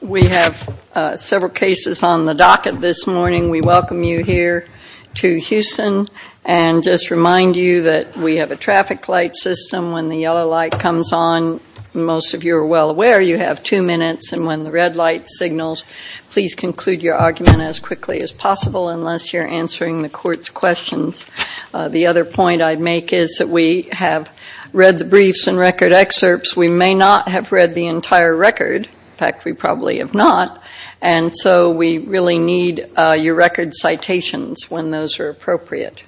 We have several cases on the docket this morning. We welcome you here to Houston and just remind you that we have a traffic light system. When the yellow light comes on, most of you are well aware you have two minutes, and when the red light signals, please conclude your argument as quickly as possible unless you're answering the court's questions. The other point I'd make is that we have read the briefs and record excerpts. We may not have read the entire record. In fact, we probably have not. And so we really need your record citations when those are appropriate.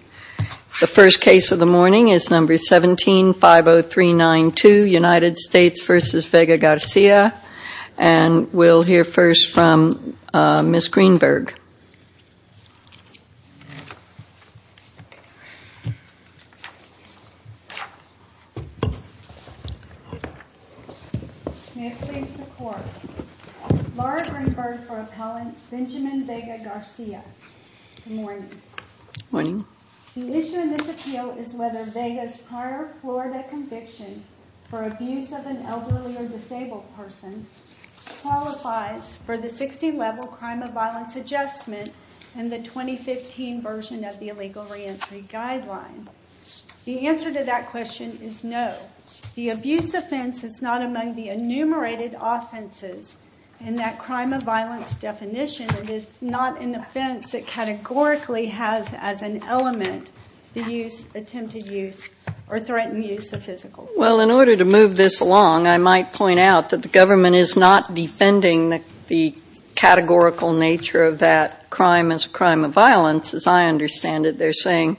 The first case of the morning is number 17-50392, United States v. Benjamin Vega-Garcia, and we'll hear first from Ms. Greenberg. May it please the court. Laura Greenberg for appellant Benjamin Vega-Garcia. Good morning. Morning. The issue in this appeal is whether Vega's prior Florida conviction for abuse of an elderly or disabled person qualifies for the 16-level crime of violence adjustment and the 2015 version of the illegal reentry guideline. The answer to that question is no. The abuse offense is not among the enumerated offenses in that crime of violence definition. It is not an offense that categorically has as an element the use, attempted use, or threatened use of physical force. Well, in order to move this along, I might point out that the government is not defending the categorical nature of that crime as a crime of violence. As I understand it, they're saying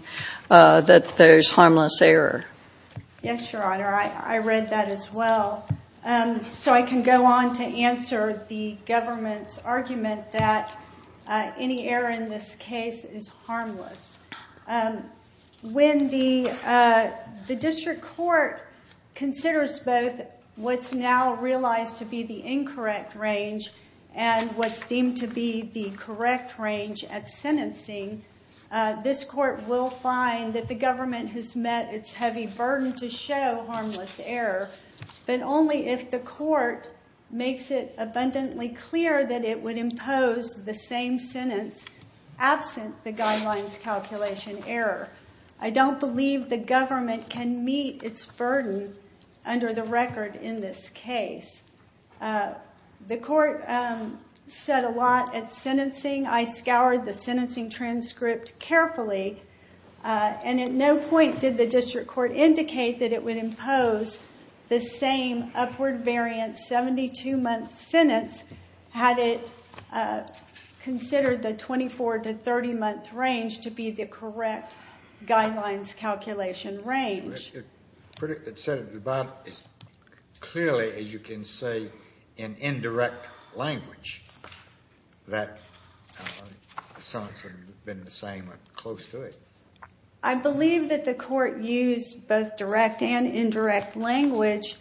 that there's harmless error. Yes, Your Honor. I read that as well. So I can go on to answer the government's argument that any error in this case is harmless. When the district court considers both what's now realized to be the incorrect range and what's deemed to be the correct range at sentencing, this court will find that the government has met its heavy burden to show harmless error, but only if the court makes it abundantly clear that it would impose the same sentence absent the guidelines calculation error. I don't believe the government can meet its burden under the record in this case. The court said a lot at sentencing. I scoured the sentencing transcript carefully, and at no point did the district court indicate that it would impose the same upward variant 72-month sentence had it considered the 24- to 30-month range to be the correct guidelines calculation range. It said it about as clearly as you can say in indirect language that something had been the same or close to it. I believe that the court used both direct and indirect language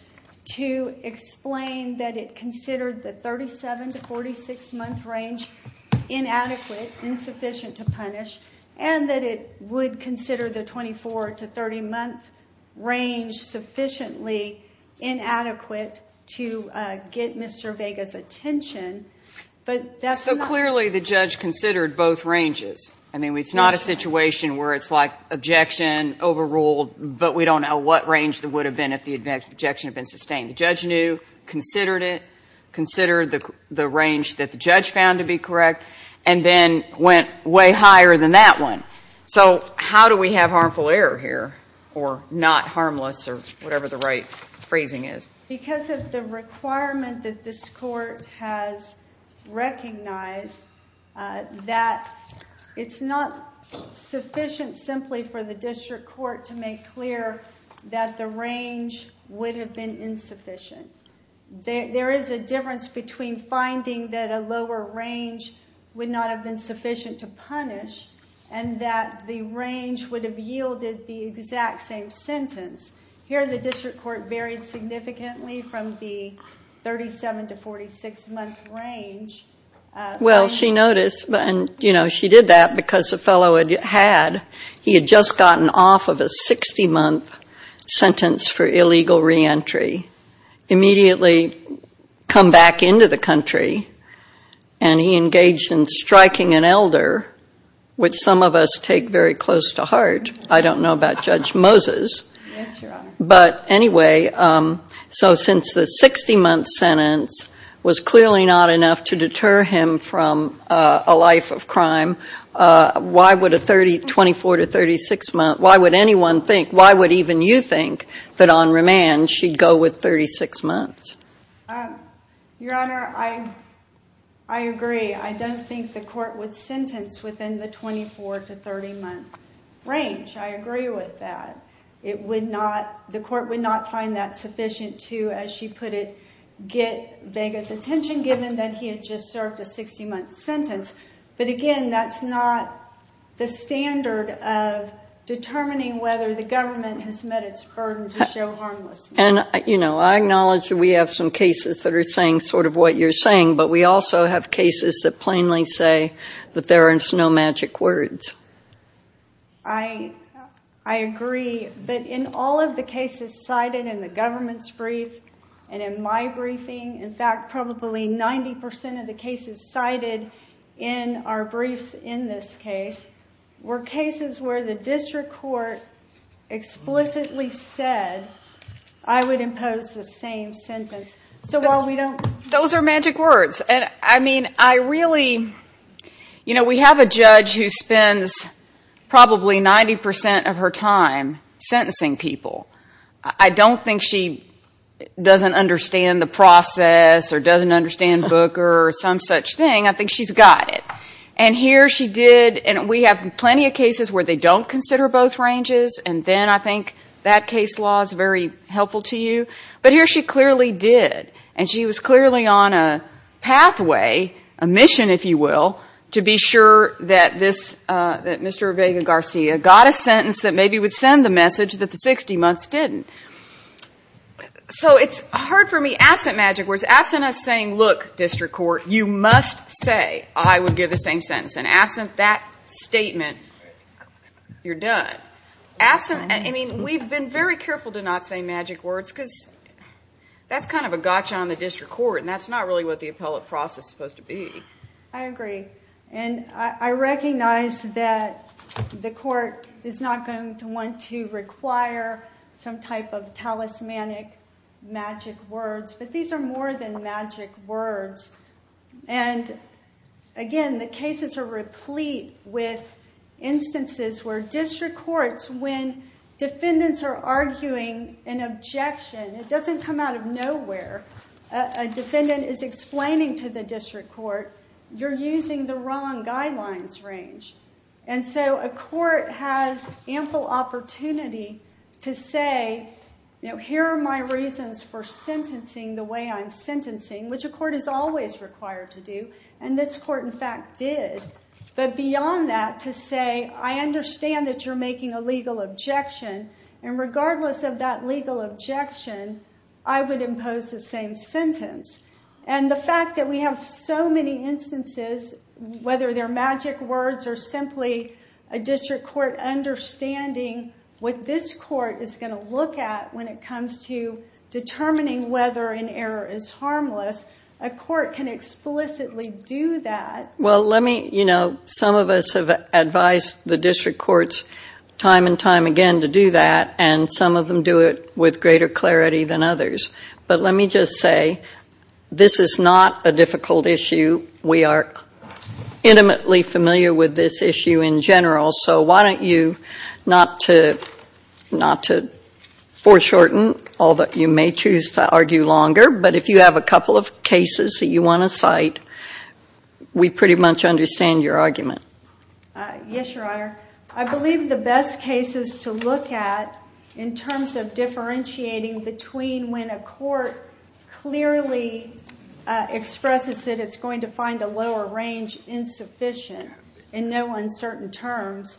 to explain that it considered the 37- to 46-month range inadequate, insufficient to punish, and that it would consider the 24- to 30-month range sufficiently inadequate to get Mr. Vega's attention. But that's not... So clearly the judge considered both ranges. I mean, it's not a situation where it's like the objection had been sustained. The judge knew, considered it, considered the range that the judge found to be correct, and then went way higher than that one. So how do we have harmful error here, or not harmless, or whatever the right phrasing is? Because of the requirement that this court has recognized that it's not sufficient simply for the district court to make clear that the range would have been insufficient. There is a difference between finding that a lower range would not have been sufficient to punish and that the range would have yielded the exact same sentence. Here the district court varied significantly from the 37- to 46-month range. Well, she noticed, and she did that because the fellow had just gotten off of a 60-month sentence for illegal reentry, immediately come back into the country, and he engaged in striking an elder, which some of us take very close to heart. I don't know about Judge Moses. Yes, Your Honor. But anyway, so since the 60-month sentence was clearly not enough to deter him from a life of crime, why would a 24- to 36-month, why would anyone think, why would even you think, that on remand she'd go with 36 months? Your Honor, I agree. I don't think the court would sentence within the 24- to 30-month range. I agree with that. The court would not find that sufficient to, as she put it, get Vega's attention, given that he had just served a 60-month sentence. But again, that's not the standard of determining whether the government has met its burden to show harmlessness. And, you know, I acknowledge that we have some cases that are saying sort of what you're saying, but we also have cases that plainly say that there is no magic words. I agree. But in all of the cases cited in the government's brief and in my briefing, in fact, probably 90 percent of the cases cited in our briefs in this case were cases where the district court explicitly said, I would impose the same sentence. So while we don't Those are magic words. And I mean, I really, you know, we have a judge who spends probably 90 percent of her time sentencing people. I don't think she doesn't understand the process or doesn't understand Booker or some such thing. I think she's got it. And here she did, and we have plenty of cases where they don't consider both ranges, and then I think that case law is very helpful to you. But here she clearly did, and she was clearly on a pathway, a mission, if you will, to be sure that Mr. Vega Garcia got a sentence that maybe would send the message that the 60 months didn't. So it's hard for me, absent magic words, absent us saying, look, district court, you must say, I would give the same sentence. And absent that statement, you're done. I mean, we've been very careful to not say magic words because that's kind of a gotcha on the district court, and that's not really what the appellate process is supposed to be. I agree. And I recognize that the court is not going to want to require some type of talismanic magic words, but these are more than magic words. And again, the cases are complete with instances where district courts, when defendants are arguing an objection, it doesn't come out of nowhere. A defendant is explaining to the district court, you're using the wrong guidelines range. And so a court has ample opportunity to say, here are my reasons for sentencing the way I'm sentencing, which a court is always required to do, and this court, in fact, did. But beyond that, to say, I understand that you're making a legal objection, and regardless of that legal objection, I would impose the same sentence. And the fact that we have so many instances, whether they're magic words or simply a district court understanding what this court is going to look at when it comes to determining whether an error is harmless, a court can explicitly do that. Well, let me, you know, some of us have advised the district courts time and time again to do that, and some of them do it with greater clarity than others. But let me just say, this is not a difficult issue. We are intimately familiar with this issue in general. So why don't you, not to foreshorten all that you may choose to argue longer, but if you have a couple of cases that you want to cite, we pretty much understand your argument. Yes, Your Honor. I believe the best cases to look at in terms of differentiating between when a court clearly expresses that it's going to find a lower range insufficient in no matter what,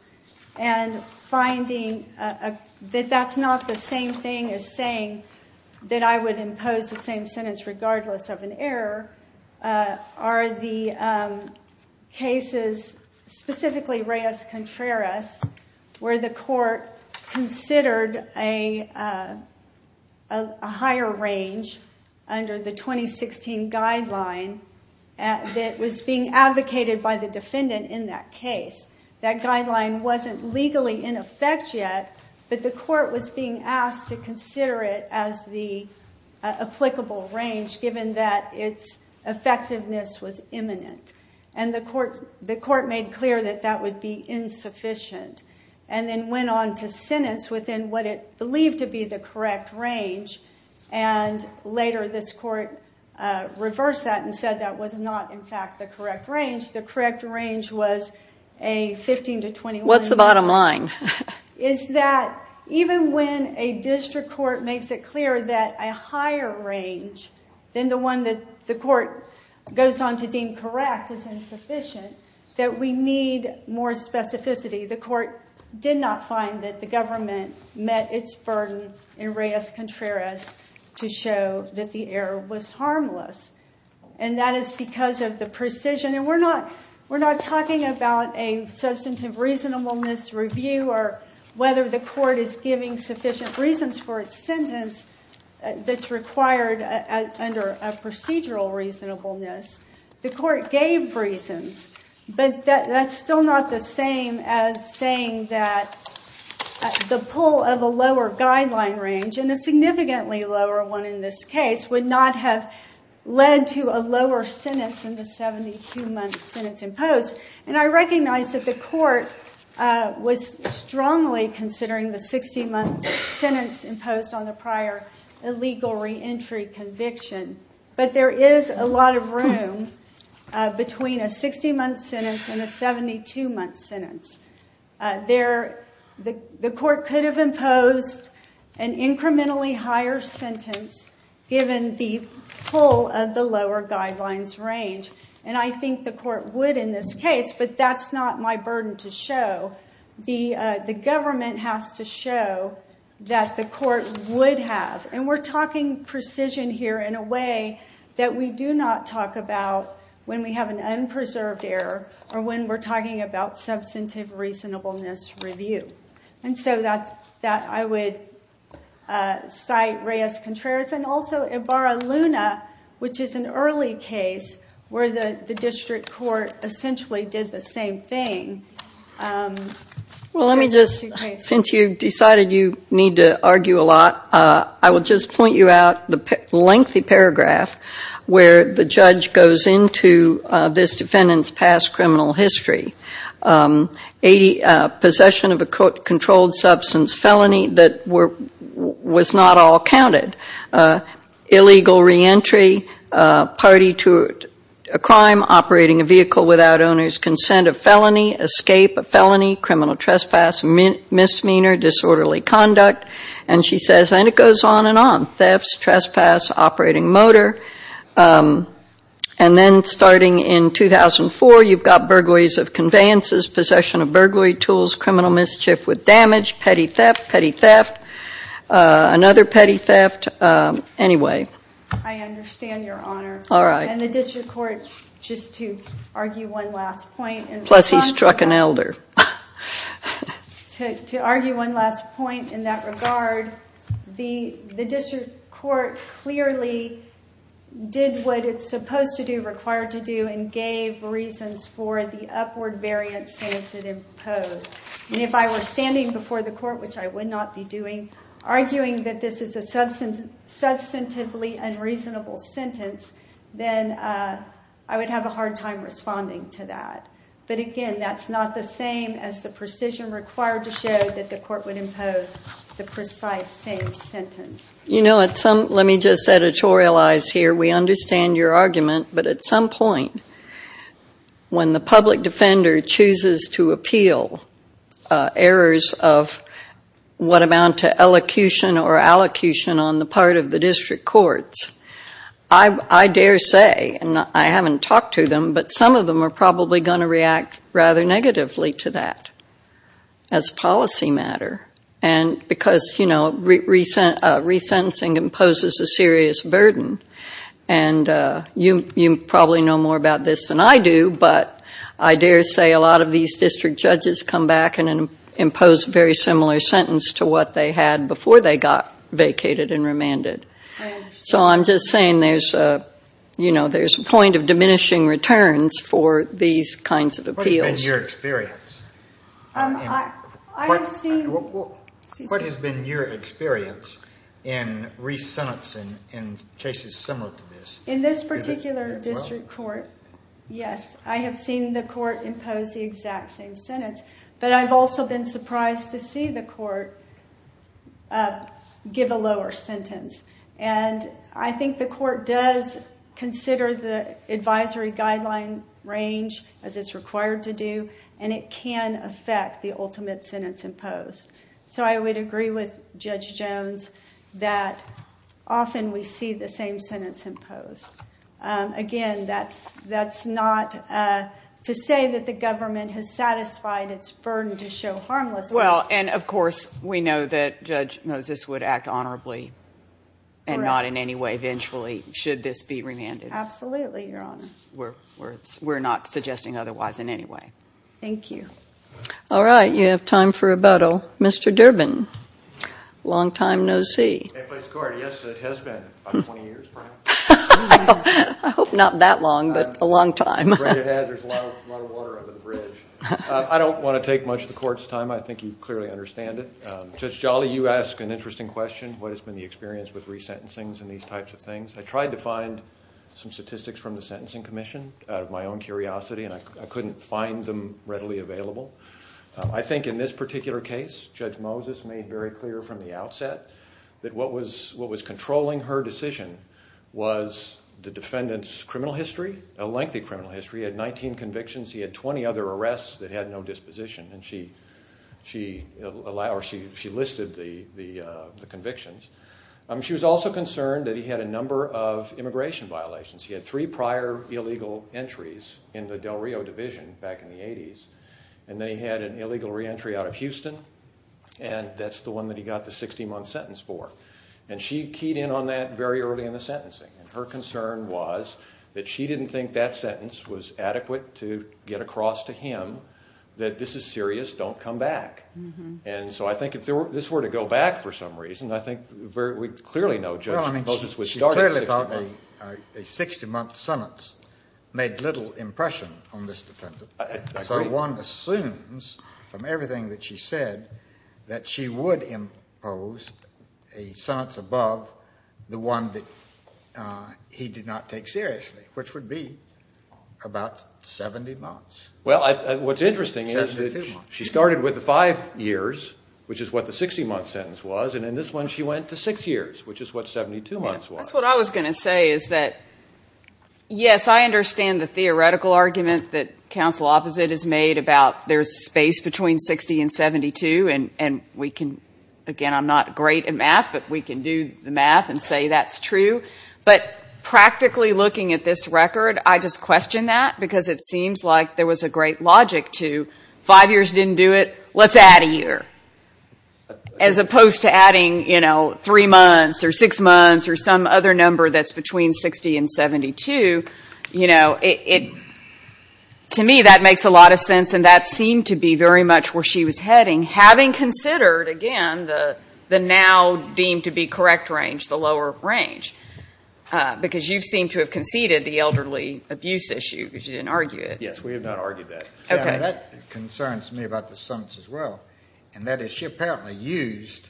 and finding that that's not the same thing as saying that I would impose the same sentence regardless of an error, are the cases, specifically Reyes-Contreras, where the court considered a higher range under the 2016 guideline that was being advocated by the defendant in that case. That guideline wasn't legally in effect yet, but the court was being asked to consider it as the applicable range, given that its effectiveness was imminent. And the court made clear that that would be insufficient, and then went on to sentence within what it believed to be the correct range, and later this court reversed that and said that was not, in fact, the correct range. The correct range was a 15 to 21. What's the bottom line? It's that even when a district court makes it clear that a higher range than the one that the court goes on to deem correct is insufficient, that we need more specificity. The court did not find that the government met its burden in Reyes-Contreras to show that the error was harmless, and that is because of the precision. And we're not talking about a substantive reasonableness review or whether the court is giving sufficient reasons for its sentence that's required under a procedural reasonableness. The court gave reasons, but that's still not the same as saying that the pull of a lower sentence in this case would not have led to a lower sentence in the 72-month sentence imposed. And I recognize that the court was strongly considering the 60-month sentence imposed on the prior illegal reentry conviction, but there is a lot of room between a 60-month sentence and a 72-month sentence. The court could have imposed an incrementally higher sentence given the pull of the lower guidelines range. And I think the court would in this case, but that's not my burden to show. The government has to show that the court would have. And we're talking precision here in a way that we do not talk about when we have an substantive reasonableness review. And so that I would cite Reyes-Contreras and also Ibarra-Luna, which is an early case where the district court essentially did the same thing. Well, let me just, since you decided you need to argue a lot, I will just point you out the lengthy paragraph where the judge goes into this defendant's past criminal history. Possession of a controlled substance felony that was not all counted. Illegal reentry, party to a crime, operating a vehicle without owner's consent, a felony, escape, a felony, criminal trespass, misdemeanor, disorderly conduct. And she says, and it goes on and on, thefts, trespass, operating motor. And then starting in 2004, you've got burglaries of conveyances, possession of burglary tools, criminal mischief with damage, petty theft, petty theft, another petty theft. Anyway. I understand, Your Honor. All right. And the district court, just to argue one last point. Plus he struck an elder. To argue one last point in that regard. The district court clearly did what it's supposed to do, required to do, and gave reasons for the upward variance since it imposed. And if I were standing before the court, which I would not be doing, arguing that this is a substantively unreasonable sentence, then I would have a hard time responding to that. But again, that's not the same as the precision required to show that the court would impose the precise same sentence. You know, let me just editorialize here. We understand your argument, but at some point, when the public defender chooses to appeal errors of what amount to elocution or allocution on the part of the district courts, I dare say, and I haven't talked to them, but some of them are probably going to react rather negatively to that as policy matter. And because, you know, resentencing imposes a serious burden. And you probably know more about this than I do, but I dare say a lot of these district judges come back and impose a very similar sentence to what they had before they got vacated and remanded. So I'm just saying, you know, there's a point of diminishing returns for these kinds of appeals. What has been your experience in resentencing in cases similar to this? In this particular district court, yes, I have seen the court impose the exact same sentence, but I've also been surprised to see the court give a lower sentence. And I think the court does consider the advisory guideline range as it's required to do, and it can affect the ultimate sentence imposed. So I would agree with Judge Jones that often we see the same sentence imposed. Again, that's not to say that the government has satisfied its burden to show harmlessness. Well, and of course we know that Judge Moses would act honorably and not in any way vengefully should this be remanded. Absolutely, Your Honor. We're not suggesting otherwise in any way. Thank you. All right, you have time for rebuttal. Mr. Durbin, long time no see. Yes, it has been about 20 years perhaps. I hope not that long, but a long time. I'm afraid it has. There's a lot of water under the bridge. I don't want to take much of the court's time. I think you clearly understand it. Judge Jolly, you ask an interesting question, what has been the experience with resentencings and these types of things. I tried to find some statistics from the Sentencing Commission out of my own curiosity, and I couldn't find them readily available. I think in this particular case, Judge Moses made very clear from the outset that what was controlling her decision was the defendant's criminal history, a lengthy criminal history. He had 19 convictions. He had 20 other arrests that he had no disposition, and she listed the convictions. She was also concerned that he had a number of immigration violations. He had three prior illegal entries in the Del Rio division back in the 80s, and then he had an illegal reentry out of Houston, and that's the one that he got the 60-month sentence for. She keyed in on that very early in the sentencing. Her concern was that she didn't think that sentence was adequate to get across to him that this is serious, don't come back. So I think if this were to go back for some reason, I think we clearly know Judge Moses would start at 60 months. A 60-month sentence made little impression on this defendant. I agree. So one assumes from everything that she said that she would impose a sentence above the one that he did not take seriously, which would be about 70 months. Well, what's interesting is that she started with the five years, which is what the 60-month sentence was, and in this one she went to six years, which is what 72 months was. Well, that's what I was going to say is that, yes, I understand the theoretical argument that counsel opposite has made about there's space between 60 and 72, and we can, again, I'm not great at math, but we can do the math and say that's true. But practically looking at this record, I just question that because it seems like there was a great logic to five years didn't do it, let's add a year, as opposed to adding, you know, three months or six months or some other number that's between 60 and 72. You know, to me that makes a lot of sense, and that seemed to be very much where she was heading, having considered, again, the now deemed to be correct range, the lower range, because you seem to have conceded the elderly abuse issue because you didn't argue it. Yes, we have not argued that. That concerns me about the summons as well, and that is she apparently used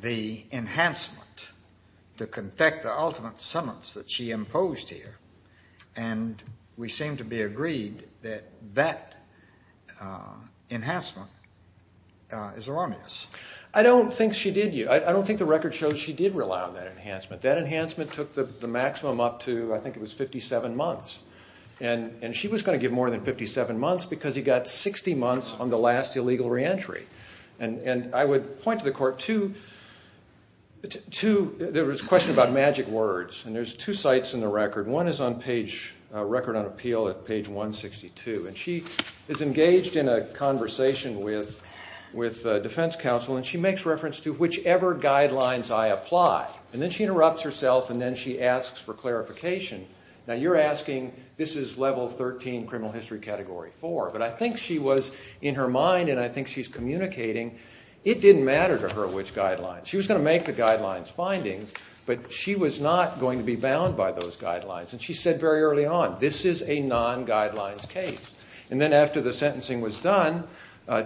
the enhancement to confect the ultimate summons that she imposed here, and we seem to be agreed that that enhancement is erroneous. I don't think she did. I don't think the record shows she did rely on that enhancement. That enhancement took the maximum up to, I think it was 57 months, and she was going to give more than 57 months because he got 60 months on the last illegal reentry. And I would point to the court two, there was a question about magic words, and there's two sites in the record. One is on page, record on appeal at page 162, and she is engaged in a conversation with defense counsel, and she makes reference to whichever guidelines I apply. And then she interrupts herself, and then she asks for clarification. Now, you're asking, this is level 13 criminal history category 4, but I think she was in her mind, and I think she's communicating it didn't matter to her which guidelines. She was going to make the guidelines findings, but she was not going to be bound by those guidelines, and she said very early on, this is a non-guidelines case. And then after the sentencing was done,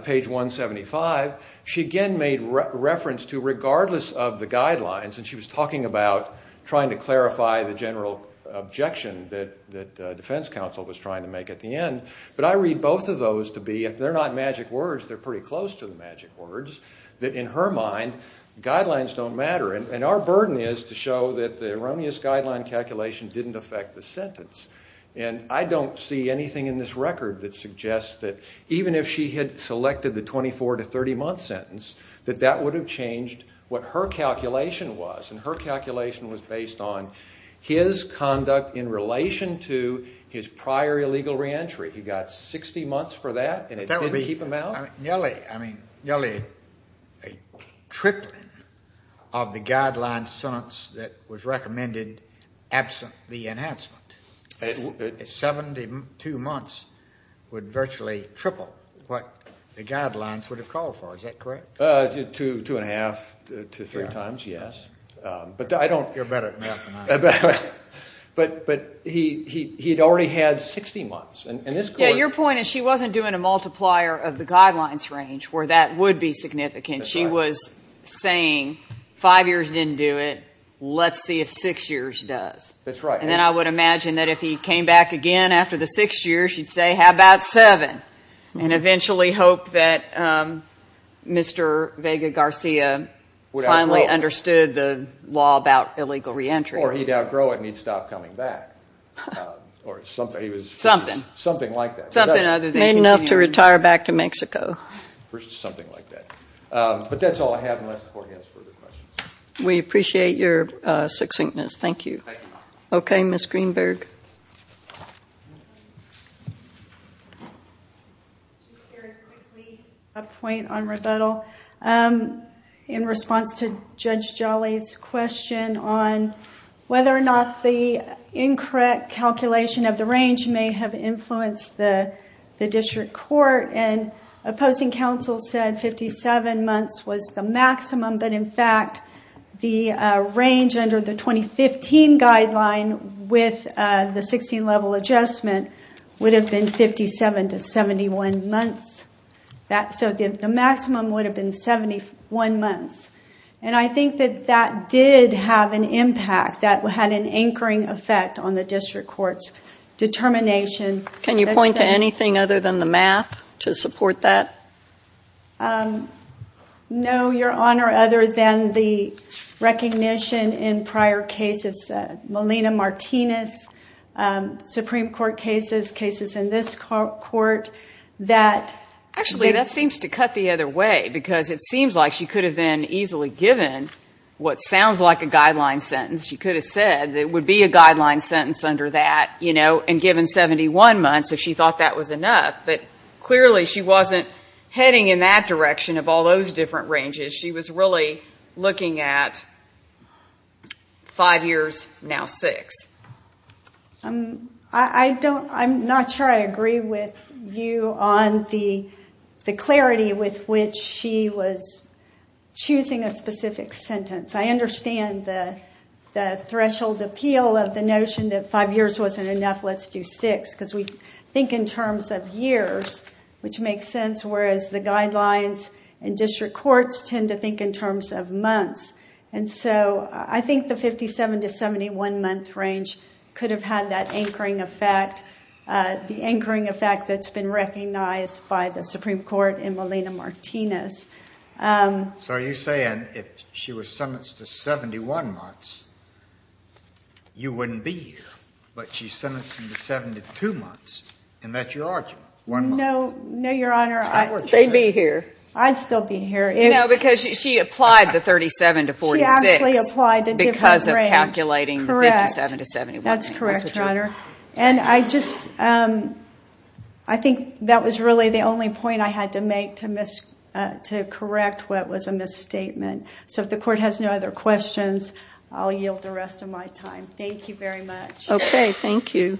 page 175, she again made reference to regardless of the guidelines, and she was talking about trying to clarify the general objection that defense counsel was trying to make at the end. But I read both of those to be, if they're not magic words, they're pretty close to the magic words, that in her mind, guidelines don't matter. And our burden is to show that the erroneous guideline calculation didn't affect the sentence. And I don't see anything in this record that suggests that even if she had selected the 24 to 30 month sentence, that that would have changed what her calculation was. And her calculation was based on his conduct in relation to his prior illegal reentry. He got 60 months for that, and it didn't keep him out? I mean, nearly a tripling of the guideline sentence that was recommended absent the enhancement. 72 months would virtually triple what the guidelines would have called for. Is that correct? Two and a half to three times, yes. You're better at math than I am. But he had already had 60 months. Yeah, your point is she wasn't doing a multiplier of the guidelines range where that would be significant. She was saying five years didn't do it. Let's see if six years does. That's right. And then I would imagine that if he came back again after the six years, she'd say, how about seven, and eventually hope that Mr. Vega-Garcia finally understood the law about illegal reentry. Or he'd outgrow it and he'd stop coming back. Something like that. Made enough to retire back to Mexico. Something like that. But that's all I have unless the Court has further questions. We appreciate your succinctness. Thank you. Okay, Ms. Greenberg. Just very quickly a point on rebuttal. In response to Judge Jolly's question on whether or not the incorrect calculation of the range may have influenced the district court, and opposing counsel said 57 months was the maximum. But, in fact, the range under the 2015 guideline with the 16-level adjustment would have been 57 to 71 months. So the maximum would have been 71 months. And I think that that did have an impact, that had an anchoring effect on the district court's determination. Can you point to anything other than the math to support that? No, Your Honor, other than the recognition in prior cases. Melina Martinez, Supreme Court cases, cases in this Court. Actually, that seems to cut the other way because it seems like she could have been easily given what sounds like a guideline sentence. She could have said it would be a guideline sentence under that, you know, and given 71 months if she thought that was enough. But clearly she wasn't heading in that direction of all those different ranges. She was really looking at five years, now six. I'm not sure I agree with you on the clarity with which she was choosing a specific sentence. I understand the threshold appeal of the notion that five years wasn't enough, let's do six, because we think in terms of years, which makes sense, whereas the guidelines in district courts tend to think in terms of months. And so I think the 57 to 71 month range could have had that anchoring effect, the anchoring effect that's been recognized by the Supreme Court in Melina Martinez. So are you saying if she was sentenced to 71 months, you wouldn't be here? But she's sentenced to 72 months, and that's your argument, one month. No, no, Your Honor. They'd be here. I'd still be here. No, because she applied the 37 to 46 because of calculating 57 to 71. That's correct, Your Honor. And I just, I think that was really the only point I had to make to correct what was a misstatement. So if the court has no other questions, I'll yield the rest of my time. Thank you very much. Okay. Thank you.